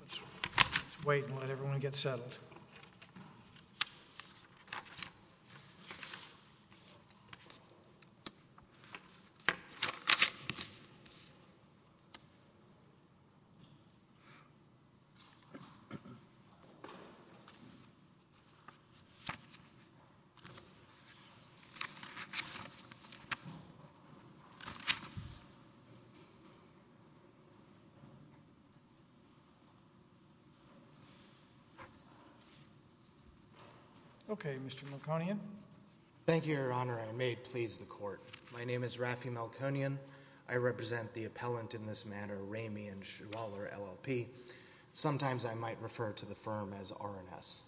Let's wait and let everyone get settled. Okay, Mr. Melkonian. Thank you, Your Honor. I may please the court. My name is Raffi Melkonian. I represent the appellant in this matter, Ramey & Schwaller, LLP. Sometimes I might refer to the firm as R&S.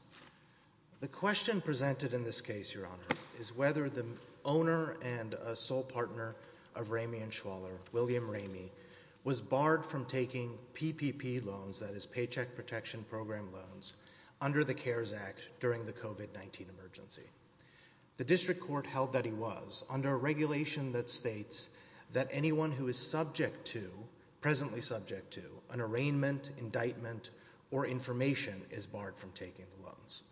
The question presented in this case, Your Honor, is whether the owner and sole partner of Ramey & Schwaller, William Ramey, was barred from taking PPP loans, that is Paycheck Protection Program loans, under the CARES Act during the COVID-19 emergency. The district court held that he was, under a regulation that states that anyone who is subject to, presently subject to, an arraignment, indictment, or information is barred from taking the loans.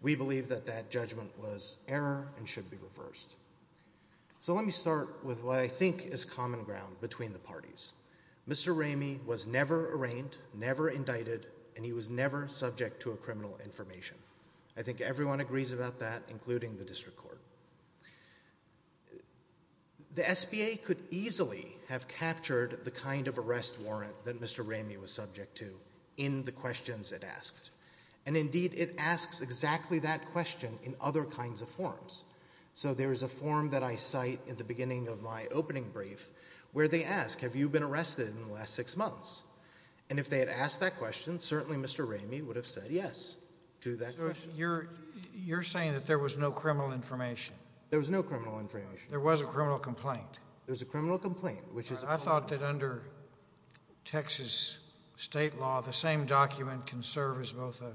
We believe that that judgment was error and should be reversed. So let me start with what I think is common ground between the parties. Mr. Ramey was never arraigned, never indicted, and he was never subject to a criminal information. I think everyone agrees about that, including the district court. The SBA could easily have captured the kind of arrest warrant that Mr. Ramey was subject to in the questions it asked. And indeed, it asks exactly that question in other kinds of forms. So there is a form that I cite at the beginning of my opening brief where they ask, have you been arrested in the last six months? And if they had asked that question, certainly Mr. Ramey would have said yes to that question. You're saying that there was no criminal information? There was no criminal information. There was a criminal complaint? There was a criminal complaint. I thought that under Texas state law, the same document can serve as both a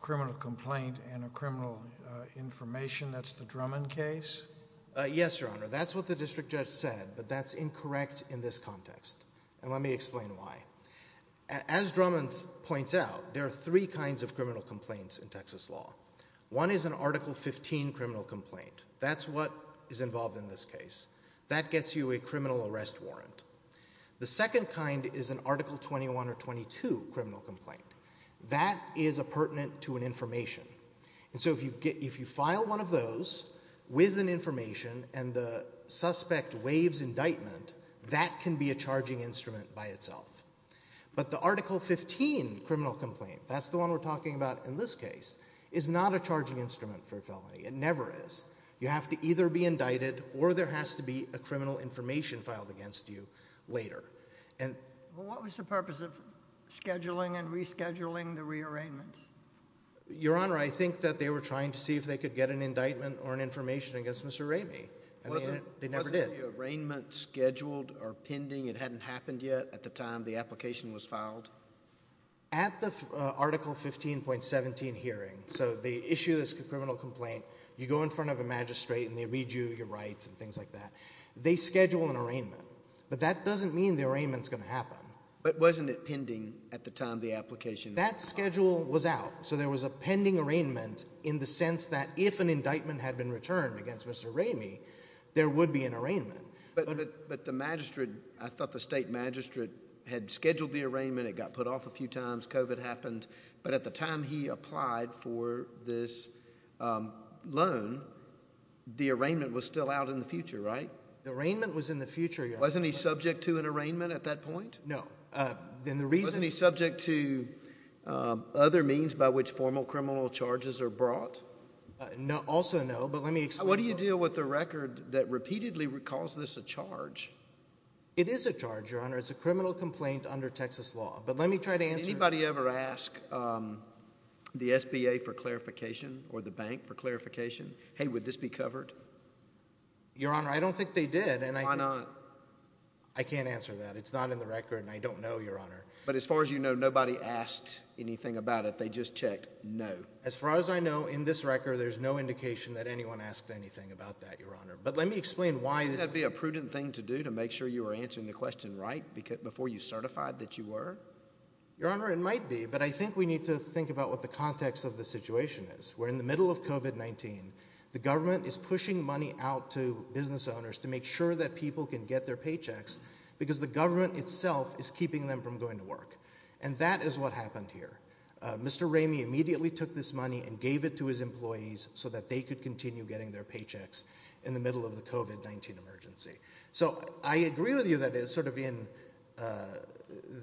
criminal complaint and a criminal information. That's the Drummond case? Yes, Your Honor. That's what the district judge said, but that's incorrect in this context. And let me explain why. As Drummond points out, there are three kinds of criminal complaints in Texas law. One is an Article 15 criminal complaint. That's what is involved in this case. That gets you a criminal arrest warrant. The second kind is an Article 21 or 22 criminal complaint. That is a pertinent to an information. And so if you file one of those with an information and the suspect waives indictment, that can be a charging instrument by itself. But the Article 15 criminal complaint, that's the one we're talking about in this case, is not a charging instrument for a felony. It never is. You have to either be indicted or there has to be a criminal information filed against you later. Well, what was the purpose of scheduling and rescheduling the rearrangements? Your Honor, I think that they were trying to see if they could get an indictment or an information against Mr. Ramey. They never did. Was the arraignment scheduled or pending? It hadn't happened yet at the time the application was filed? At the Article 15.17 hearing, so the issue of this criminal complaint, you go in front of a magistrate and they read you your rights and things like that. They schedule an arraignment. But that doesn't mean the arraignment's going to happen. But wasn't it pending at the time the application was filed? That schedule was out. So there was a pending arraignment in the sense that if an indictment had been returned against Mr. Ramey, there would be an arraignment. But the magistrate, I thought the state magistrate had scheduled the arraignment, it got put off a few times, COVID happened. But at the time he applied for this loan, the arraignment was still out in the future, right? The arraignment was in the future, Your Honor. Wasn't he subject to an arraignment at that point? No. Wasn't he subject to other means by which formal criminal charges are brought? No. Also no, but let me explain. What do you do with the record that repeatedly calls this a charge? It is a charge, Your Honor. It's a criminal complaint under Texas law. But let me try to answer it. Did anybody ever ask the SBA for clarification or the bank for clarification, hey, would this be covered? Your Honor, I don't think they did. Why not? I can't answer that. It's not in the record and I don't know, Your Honor. But as far as you know, nobody asked anything about it. They just checked no. As far as I know, in this record, there's no indication that anyone asked anything about that, Your Honor. But let me explain why. Wouldn't that be a prudent thing to do to make sure you were answering the question right before you certified that you were? Your Honor, it might be, but I think we need to think about what the context of the situation is. We're in the middle of COVID-19. The government is pushing money out to business owners to make sure that people can get their paychecks because the government itself is keeping them from going to work. And that is what happened here. Mr. Ramey immediately took this money and gave it to his employees so that they could continue getting their paychecks in the middle of the COVID-19 emergency. So I agree with you that it's sort of in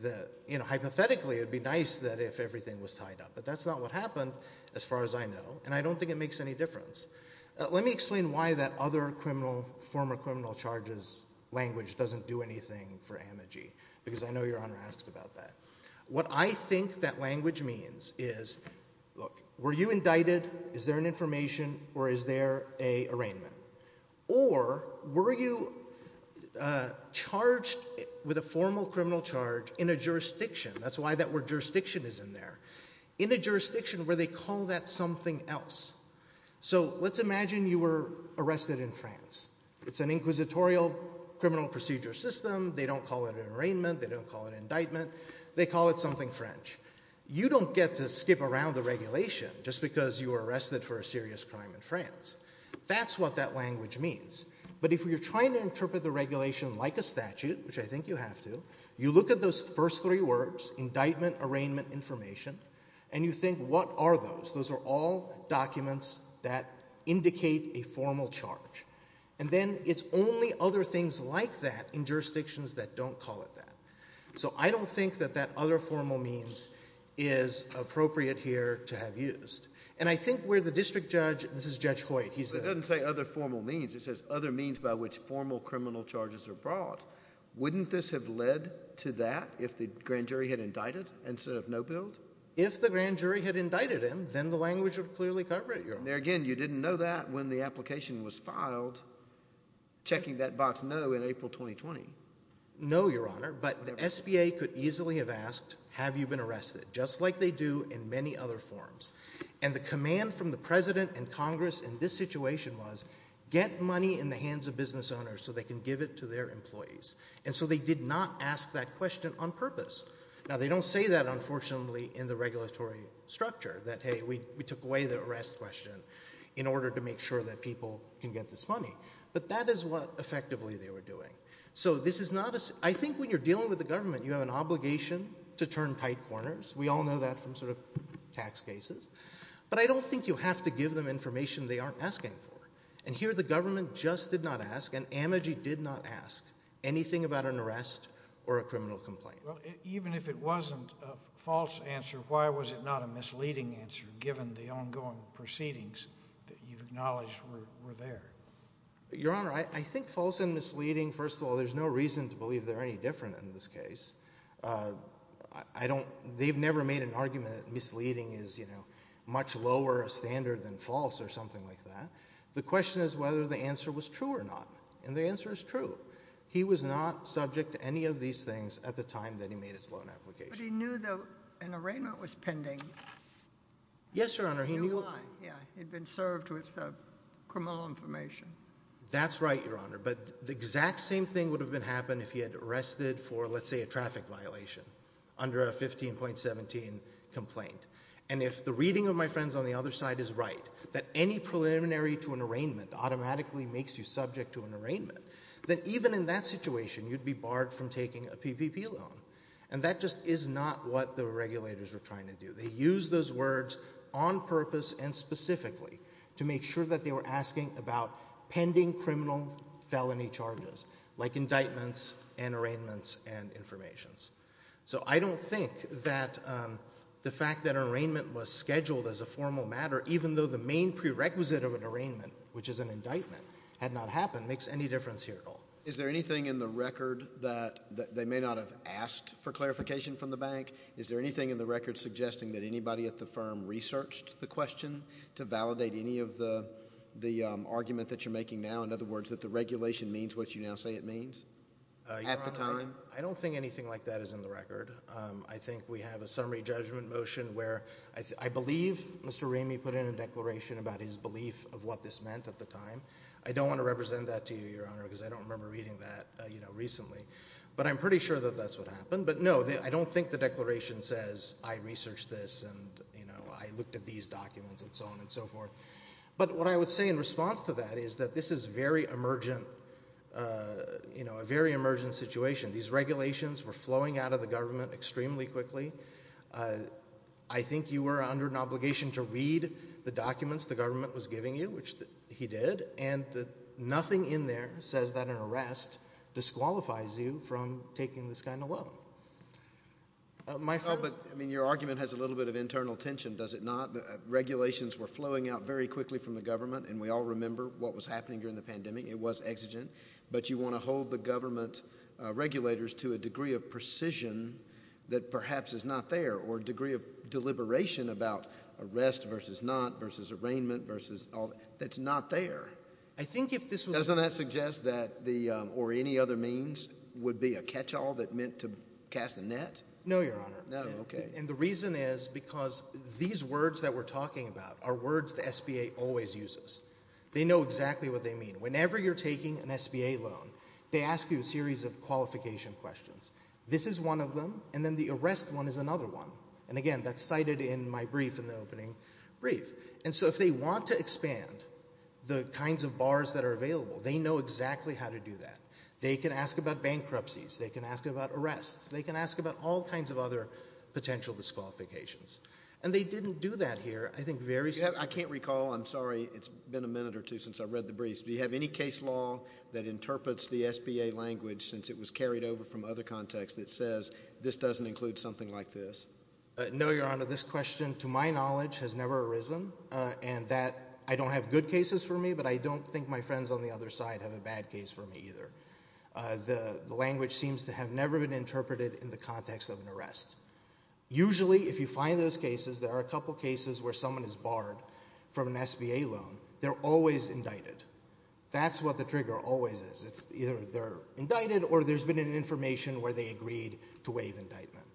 the, you know, hypothetically, it'd be nice that if everything was tied up, but that's not what happened as far as I know, and I don't think it makes any difference. Let me explain why that other criminal, former criminal charges language doesn't do anything for AMIGI, because I know Your Honor asked about that. What I think that language means is, look, were you indicted? Is there an information or is there a arraignment? Or were you charged with a formal criminal charge in a jurisdiction? That's why that word jurisdiction is in there. In a jurisdiction where they call that something else. So let's imagine you were arrested in France. It's an inquisitorial criminal procedure system. They don't call it an arraignment. They don't call it an indictment. They call it something French. You don't get to skip around the regulation just because you were arrested for a serious crime in France. That's what that language means. But if you're trying to interpret the regulation like a statute, which I think you have to, you look at those first three words, indictment, arraignment, information, and you think, what are those? Those are all documents that indicate a formal charge. And then it's only other things like that in jurisdictions that don't call it that. So I don't think that that other formal means is appropriate here to have used. And I think where the district judge, this is Judge Hoyt, he said. But it doesn't say other formal means. It says other means by which formal criminal charges are brought. Wouldn't this have led to that if the grand jury had indicted instead of no build? If the grand jury had indicted him, then the language would clearly cover it. There again, you didn't know that when the application was filed, checking that box no in April 2020. No, Your Honor, but the SBA could easily have asked, have you been arrested? Just like they do in many other forms. And the command from the president and Congress in this situation was, get money in the hands of business owners so they can give it to their employees. And so they did not ask that question on purpose. Now, they don't say that, unfortunately, in the regulatory structure that, hey, we took away the arrest question in order to make sure that people can get this money. But that is what effectively they were doing. So this is not a, I think when you're dealing with the government, you have an obligation to turn tight corners. We all know that from sort of tax cases. But I don't think you have to give them information they aren't asking for. And here the government just did not ask, and AMIGI did not ask, anything about an arrest or a criminal complaint. Well, even if it wasn't a false answer, why was it not a misleading answer, given the ongoing proceedings that you've acknowledged were there? Your Honor, I think false and misleading, first of all, there's no reason to believe they're any different in this case. I don't, they've never made an argument that misleading is, you know, much lower a standard than false or something like that. The question is whether the answer was true or not, and the answer is true. He was not subject to any of these things at the time that he made his loan application. But he knew that an arraignment was pending. Yes, Your Honor, he knew why. Yeah, he'd been served with criminal information. That's right, Your Honor. But the exact same thing would have happened if he had arrested for, let's say, a traffic violation under a 15.17 complaint. And if the reading of my friends on the other side is right, that any preliminary to an arraignment, then even in that situation, you'd be barred from taking a PPP loan. And that just is not what the regulators were trying to do. They used those words on purpose and specifically to make sure that they were asking about pending criminal felony charges, like indictments and arraignments and information. So I don't think that the fact that an arraignment was scheduled as a formal matter, even though the main prerequisite of an arraignment, which is an indictment, had not happened, makes any difference here at all. Is there anything in the record that they may not have asked for clarification from the bank? Is there anything in the record suggesting that anybody at the firm researched the question to validate any of the argument that you're making now, in other words, that the regulation means what you now say it means at the time? I don't think anything like that is in the record. I think we have a summary judgment motion where I believe Mr. Ramey put in a declaration about his belief of what this meant at the time. I don't want to represent that to you, Your Honor, because I don't remember reading that recently. But I'm pretty sure that that's what happened. But no, I don't think the declaration says, I researched this and I looked at these documents and so on and so forth. But what I would say in response to that is that this is a very emergent situation. These regulations were flowing out of the government extremely quickly. I think you were under an obligation to read the documents the government was giving you, which he did, and nothing in there says that an arrest disqualifies you from taking this kind of loan. But I mean, your argument has a little bit of internal tension, does it not? Regulations were flowing out very quickly from the government, and we all remember what was happening during the pandemic. It was exigent. But you want to hold the government regulators to a degree of precision that perhaps is not there, or a degree of deliberation about arrest versus not, versus arraignment, versus all that, that's not there. I think if this was... Doesn't that suggest that the, or any other means, would be a catch-all that meant to cast a net? No, Your Honor. No, okay. And the reason is because these words that we're talking about are words the SBA always uses. They know exactly what they mean. Whenever you're taking an SBA loan, they ask you a series of qualification questions. This is one of them, and then the arrest one is another one. And again, that's cited in my brief in the opening brief. And so if they want to expand the kinds of bars that are available, they know exactly how to do that. They can ask about bankruptcies. They can ask about arrests. They can ask about all kinds of other potential disqualifications. And they didn't do that here, I think, very successfully. I can't recall. I'm sorry. It's been a minute or two since I read the briefs. Do you have any case law that interprets the SBA language, since it was carried over from other contexts, that says, this doesn't include something like this? No, Your Honor. This question, to my knowledge, has never arisen. And that, I don't have good cases for me, but I don't think my friends on the other side have a bad case for me either. The language seems to have never been interpreted in the context of an arrest. Usually, if you find those cases, there are a couple cases where someone is barred from an SBA loan, they're always indicted. That's what the trigger always is. Either they're indicted or there's been an information where they agreed to waive indictment.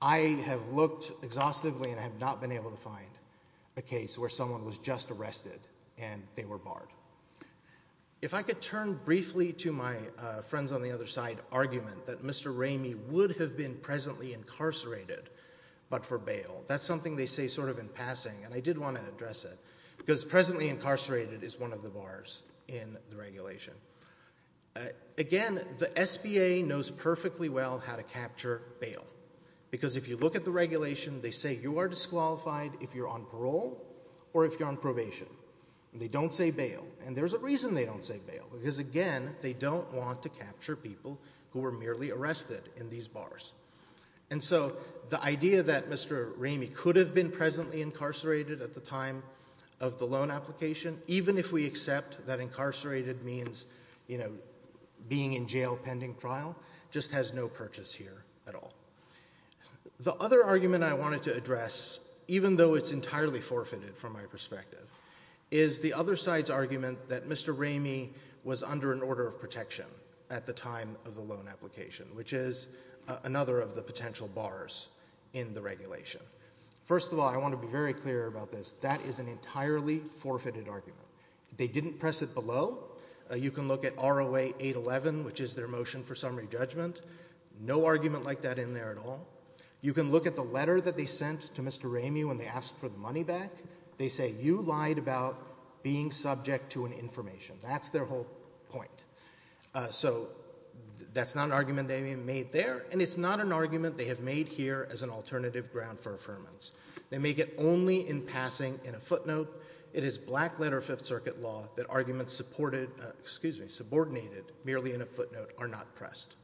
I have looked exhaustively and have not been able to find a case where someone was just arrested and they were barred. If I could turn briefly to my friends on the other side argument that Mr. Ramey would have been presently incarcerated, but for bail. That's something they say sort of in passing, and I did want to address it, because presently incarcerated is one of the bars in the regulation. Again, the SBA knows perfectly well how to capture bail. Because if you look at the regulation, they say you are disqualified if you're on parole or if you're on probation. And they don't say bail. And there's a reason they don't say bail, because again, they don't want to capture people who were merely arrested in these bars. And so the idea that Mr. Ramey could have been presently incarcerated at the time of the loan application, even if we accept that incarcerated means being in jail pending trial, just has no purchase here at all. The other argument I wanted to address, even though it's entirely forfeited from my perspective, is the other side's argument that Mr. Ramey was under an order of protection at the time of the loan application, which is another of the potential bars in the regulation. First of all, I want to be very clear about this. That is an entirely forfeited argument. They didn't press it below. You can look at ROA 811, which is their motion for summary judgment. No argument like that in there at all. You can look at the letter that they sent to Mr. Ramey when they asked for the money back. They say you lied about being subject to an information. That's their whole point. So that's not an argument they made there, and it's not an argument they have made here as an alternative ground for affirmance. They make it only in passing in a footnote. It is black-letter Fifth Circuit law that arguments supported, excuse me, subordinated merely in a footnote are not pressed.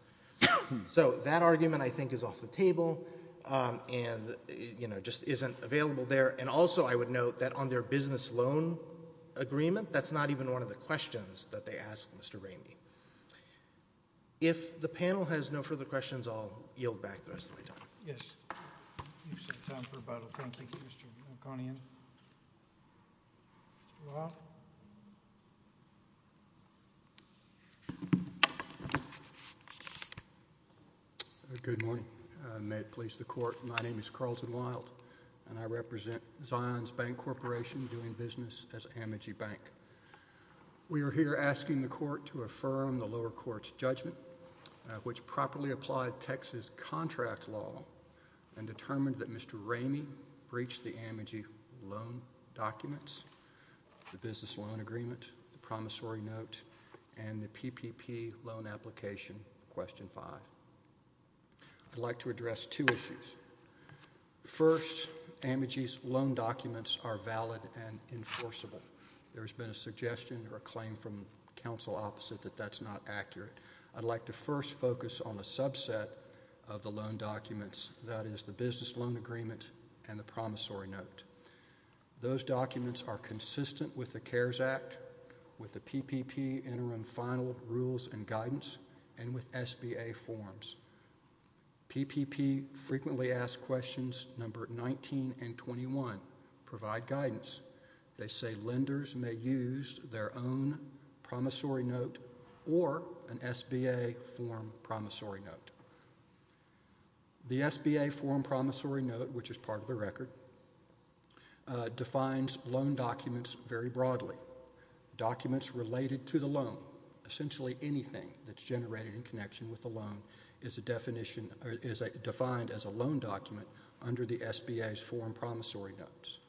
So that argument, I think, is off the table and, you know, just isn't available there. And also I would note that on their business loan agreement, that's not even one of the arguments they made. If the panel has no further questions, I'll yield back the rest of my time. Yes. You said time for rebuttal. Thank you, Mr. O'Connor. Mr. Wild? Good morning. May it please the Court, my name is Carlton Wild, and I represent Zions Bank Corporation doing business as Amogee Bank. We are here asking the Court to affirm the lower court's judgment, which properly applied Texas contract law and determined that Mr. Ramey breached the Amogee loan documents, the business loan agreement, the promissory note, and the PPP loan application, question five. I'd like to address two issues. First, Amogee's loan documents are valid and enforceable. There has been a suggestion or a claim from counsel opposite that that's not accurate. I'd like to first focus on a subset of the loan documents, that is the business loan agreement and the promissory note. Those documents are consistent with the CARES Act, with the PPP interim final rules and guidance, and with SBA forms. PPP frequently asked questions number 19 and 21 provide guidance. They say lenders may use their own promissory note or an SBA form promissory note. The SBA form promissory note, which is part of the record, defines loan documents very broadly. Documents related to the loan, essentially anything that's generated in connection with the loan, is defined as a loan document under the SBA's form promissory notes.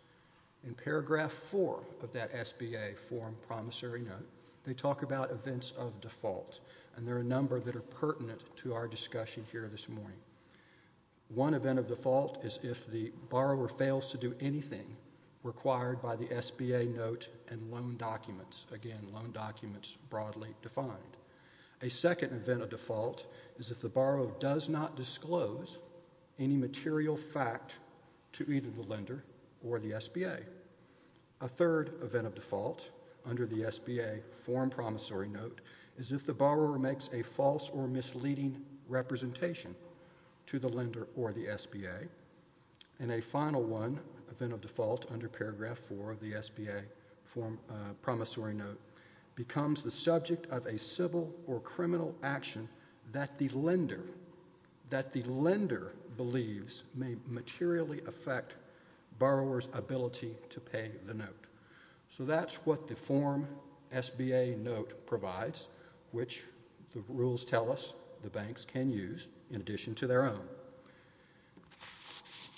In paragraph four of that SBA form promissory note, they talk about events of default, and there are a number that are pertinent to our discussion here this morning. One event of default is if the borrower fails to do anything required by the SBA note and loan documents, again, loan documents broadly defined. A second event of default is if the borrower does not disclose any material fact to either the lender or the SBA. A third event of default under the SBA form promissory note is if the borrower makes a false or misleading representation to the lender or the SBA. And a final one, event of default under paragraph four of the SBA form promissory note, becomes the subject of a civil or criminal action that the lender believes may materially affect borrower's ability to pay the note. So that's what the form SBA note provides, which the rules tell us the banks can use in addition to their own.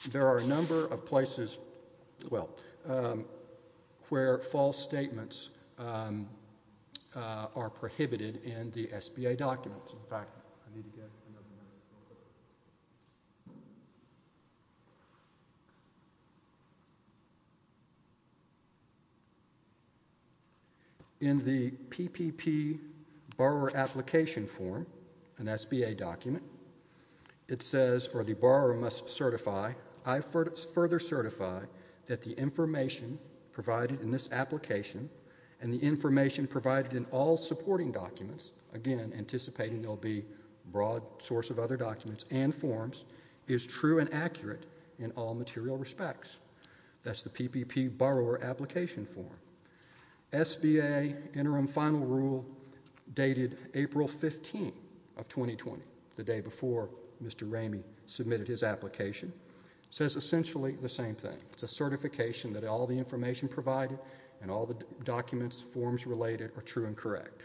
Now, there are a number of places where false statements are prohibited in the SBA documents. In fact, I need to get another one. In the PPP borrower application form, an SBA document, it says, or the borrower must certify, I further certify that the information provided in this application and the information provided in all supporting documents, again, anticipating there will be a broad source of other documents and forms, is true and accurate in all material respects. That's the PPP borrower application form. SBA interim final rule dated April 15 of 2020, the day before Mr. Ramey submitted his application, says essentially the same thing. It's a certification that all the information provided and all the documents, forms related are true and correct.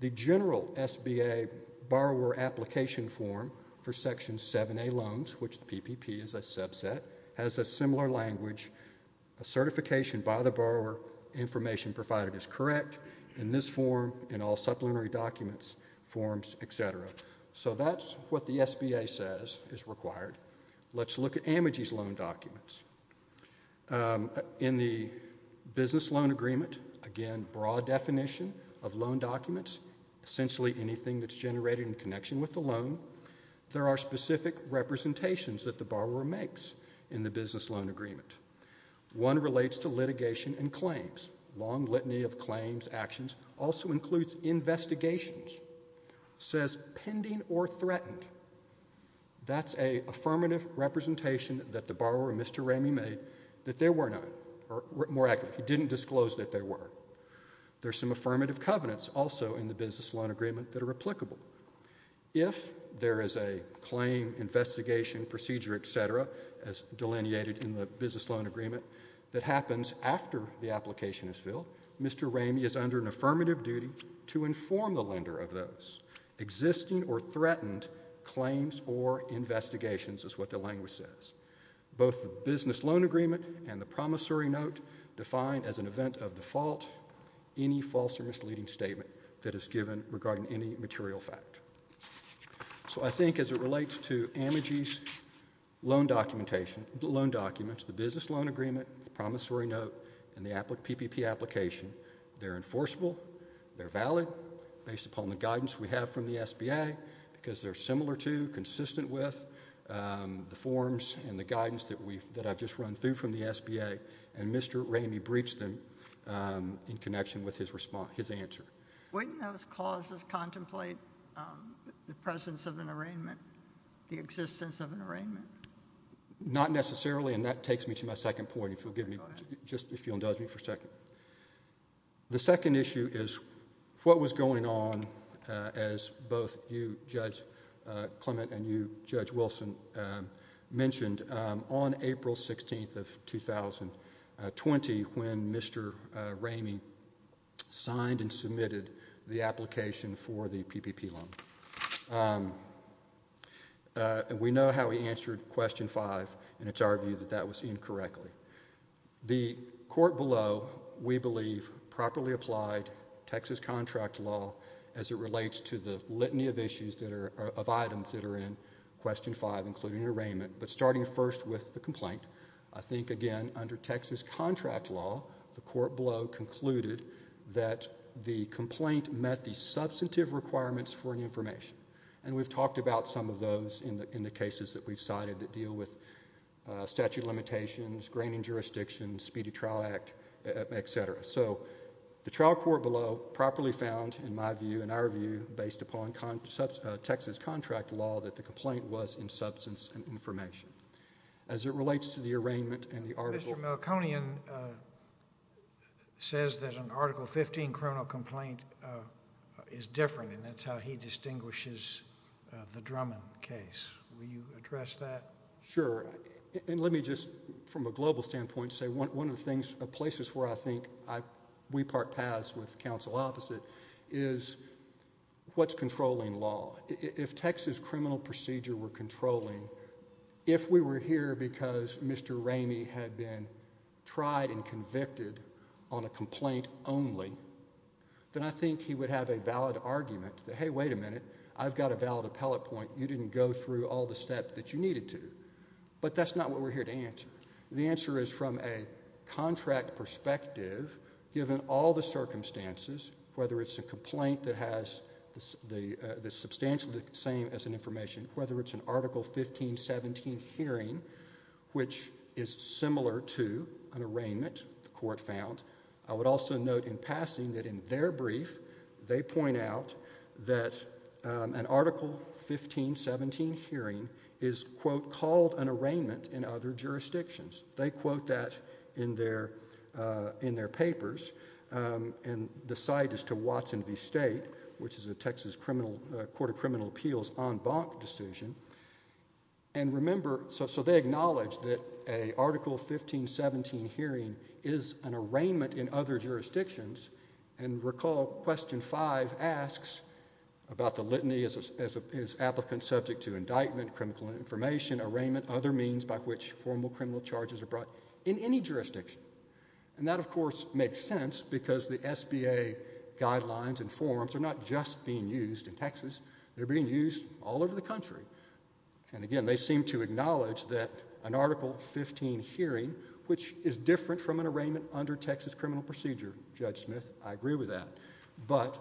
The general SBA borrower application form for Section 7A loans, which the PPP is a subset, has a similar language, a certification by the borrower, information provided is correct in this form, in all supplementary documents, forms, et cetera. So that's what the SBA says is required. Let's look at AMIGI's loan documents. In the business loan agreement, again, broad definition of loan documents, essentially anything that's generated in connection with the loan. There are specific representations that the borrower makes in the business loan agreement. One relates to litigation and claims. Long litany of claims, actions, also includes investigations, says pending or threatened. That's an affirmative representation that the borrower, Mr. Ramey, made that there were none, or more accurately, he didn't disclose that there were. There's some affirmative covenants also in the business loan agreement that are applicable. If there is a claim, investigation, procedure, et cetera, as delineated in the business loan agreement, that happens after the application is filled, Mr. Ramey is under an affirmative duty to inform the lender of those existing or threatened claims or investigations, is what the language says. Both the business loan agreement and the promissory note define as an event of default, any false or misleading statement that is given regarding any material fact. So I think as it relates to AMIGI's loan documents, the business loan agreement, the promissory note, and the PPP application, they're enforceable, they're valid, based upon the guidance we have from the SBA, because they're similar to, consistent with the forms and the guidance that I've just run through from the SBA, and Mr. Ramey breached them in connection with his response, his answer. Wouldn't those clauses contemplate the presence of an arraignment, the existence of an arraignment? Not necessarily, and that takes me to my second point, if you'll give me, just if you'll indulge me for a second. The second issue is what was going on, as both you, Judge Clement, and you, Judge Wilson, mentioned on April 16th of 2020, when Mr. Ramey signed and submitted the application for the PPP loan. We know how he answered question five, and it's our view that that was incorrectly. The court below, we believe, properly applied Texas contract law as it relates to the litany of issues that are, of items that are in question five, including an arraignment, but starting first with the complaint, I think again, under Texas contract law, the court below concluded that the complaint met the substantive requirements for the information, and we've talked about some of those in the cases that we've cited that deal with statute of limitations, graining jurisdictions, speedy trial act, et cetera. So the trial court below properly found, in my view, in our view, based upon Texas contract law, that the complaint was in substance and information. As it relates to the arraignment and the article... Mr. Milconian says that an Article 15 criminal complaint is different, and that's how he distinguishes the Drummond case. Will you address that? Sure. And let me just, from a global standpoint, say one of the things, places where I think we part paths with counsel opposite, is what's controlling law. If Texas criminal procedure were controlling, if we were here because Mr. Ramey had been tried and convicted on a complaint only, then I think he would have a valid argument that, hey, wait a minute. I've got a valid appellate point. You didn't go through all the steps that you needed to. But that's not what we're here to answer. The answer is from a contract perspective, given all the circumstances, whether it's a complaint that has the substantially the same as an information, whether it's an Article 1517 hearing, which is similar to an arraignment, the court found, I would also note in passing that in their brief, they point out that an Article 1517 hearing is, quote, called an arraignment in other jurisdictions. They quote that in their papers, and the site is to Watson v. State, which is a Texas Court of Criminal Appeals en banc decision. And remember, so they acknowledge that an Article 1517 hearing is an arraignment in other jurisdictions, and recall Question 5 asks about the litany, is applicant subject to indictment, criminal information, arraignment, other means by which formal criminal charges are brought in any jurisdiction. And that, of course, makes sense because the SBA guidelines and forms are not just being used in Texas, they're being used all over the country. And again, they seem to acknowledge that an Article 15 hearing, which is different from an arraignment under Texas criminal procedure, Judge Smith, I agree with that. But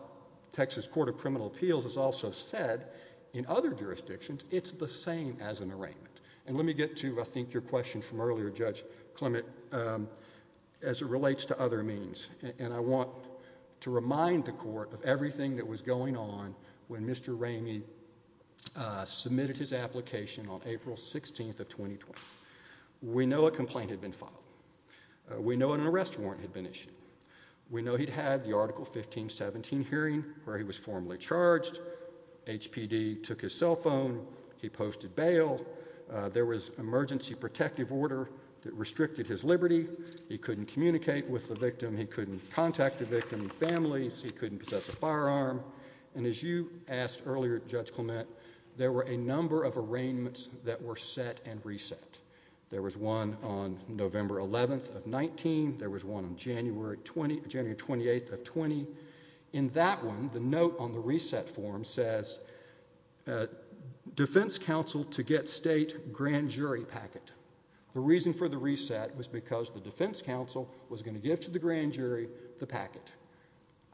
Texas Court of Criminal Appeals has also said in other jurisdictions, it's the same as an arraignment. And let me get to, I think, your question from earlier, Judge Clement, as it relates to other means. And I want to remind the court of everything that was going on when Mr. Ramey submitted his application on April 16th of 2020. We know a complaint had been filed. We know an arrest warrant had been issued. We know he'd had the Article 1517 hearing, where he was formally charged. HPD took his cell phone. He posted bail. There was emergency protective order that restricted his liberty. He couldn't communicate with the victim. He couldn't contact the victim's family. He couldn't possess a firearm. And as you asked earlier, Judge Clement, there were a number of arraignments that were set and reset. There was one on November 11th of 19. There was one on January 28th of 20. In that one, the note on the reset form says, defense counsel to get state grand jury packet. The reason for the reset was because the defense counsel was going to give to the grand jury the packet.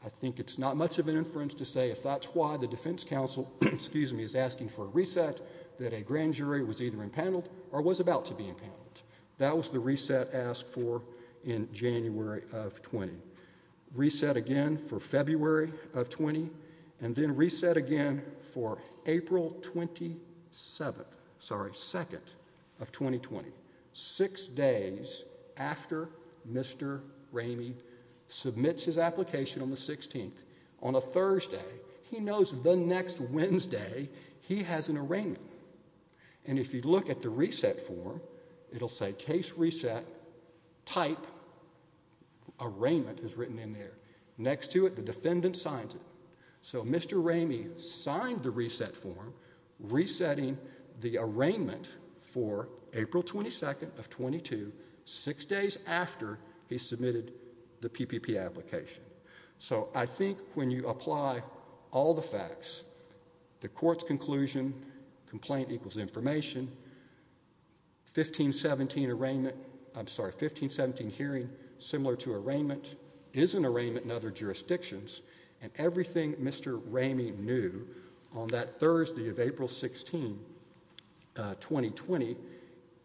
I think it's not much of an inference to say if that's why the defense counsel is asking for a reset, that a grand jury was either impaneled or was about to be impaneled. That was the reset asked for in January of 20. Reset again for February of 20. And then reset again for April 27th, sorry, 2nd of 2020, six days after Mr. Ramey submits his application on the 16th. On a Thursday, he knows the next Wednesday he has an arraignment. And if you look at the reset form, it'll say case reset type arraignment is written in there. Next to it, the defendant signs it. So Mr. Ramey signed the reset form resetting the arraignment for April 22nd of 22, six days after he submitted the PPP application. So I think when you apply all the facts, the court's conclusion, complaint equals information, 1517 arraignment, I'm sorry, 1517 hearing similar to arraignment is an arraignment in other jurisdictions and everything Mr. Ramey knew on that Thursday of April 16, 2020,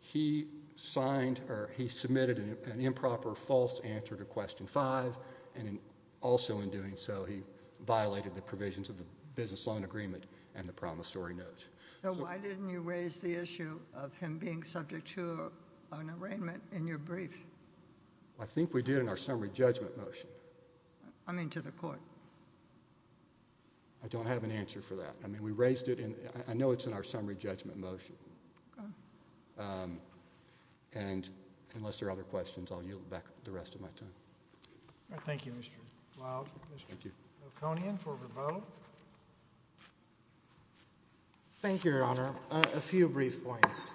he signed or he submitted an improper false answer to question five. And also in doing so, he violated the provisions of the business loan agreement and the promissory notes. So why didn't you raise the issue of him being subject to an arraignment in your brief? I think we did in our summary judgment motion. I mean, to the court. I don't have an answer for that. I mean, we raised it in, I know it's in our summary judgment motion. And unless there are other questions, I'll yield back the rest of my time. Thank you, Mr. Wilde, Mr. Oconian for rebuttal. Thank you, Your Honor. A few brief points.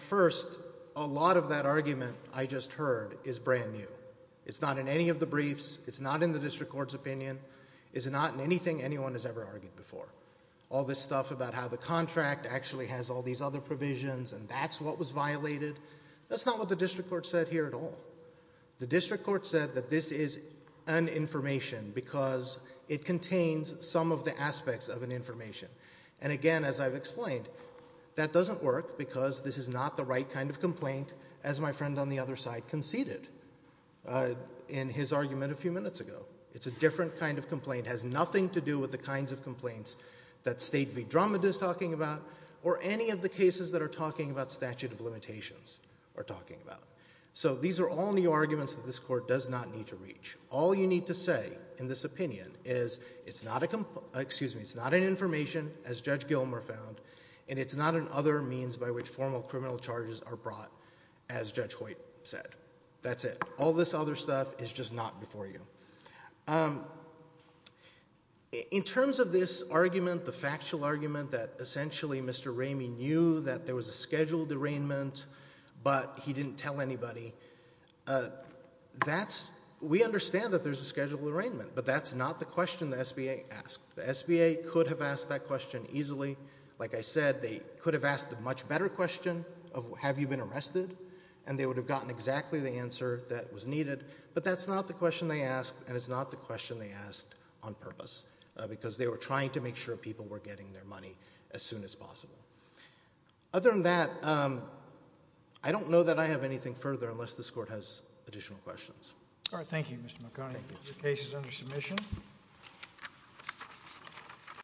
First, a lot of that argument I just heard is brand new. It's not in any of the briefs. It's not in the district court's opinion. It's not in anything anyone has ever argued before. All this stuff about how the contract actually has all these other provisions and that's what was violated, that's not what the district court said here at all. The district court said that this is an information because it contains some of the aspects of an information. And again, as I've explained, that doesn't work because this is not the right kind of complaint as my friend on the other side conceded in his argument a few minutes ago. It's a different kind of complaint. It has nothing to do with the kinds of complaints that State v. Drummond is talking about or any of the cases that are talking about statute of limitations are talking about. So these are all new arguments that this court does not need to reach. All you need to say in this opinion is it's not an information, as Judge Gilmer found, and it's not an other means by which formal criminal charges are brought, as Judge Hoyt said. That's it. All this other stuff is just not before you. In terms of this argument, the factual argument that essentially Mr. Ramey knew that there was a scheduled arraignment, but he didn't tell anybody, that's, we understand that there's a scheduled arraignment, but that's not the question the SBA asked. The SBA could have asked that question easily. Like I said, they could have asked a much better question of have you been arrested and they would have gotten exactly the answer that was needed, but that's not the question they asked and it's not the question they asked on purpose because they were trying to make sure people were getting their money as soon as possible. Other than that, I don't know that I have anything further unless this court has additional questions. All right. Thank you, Mr. McConey. Thank you.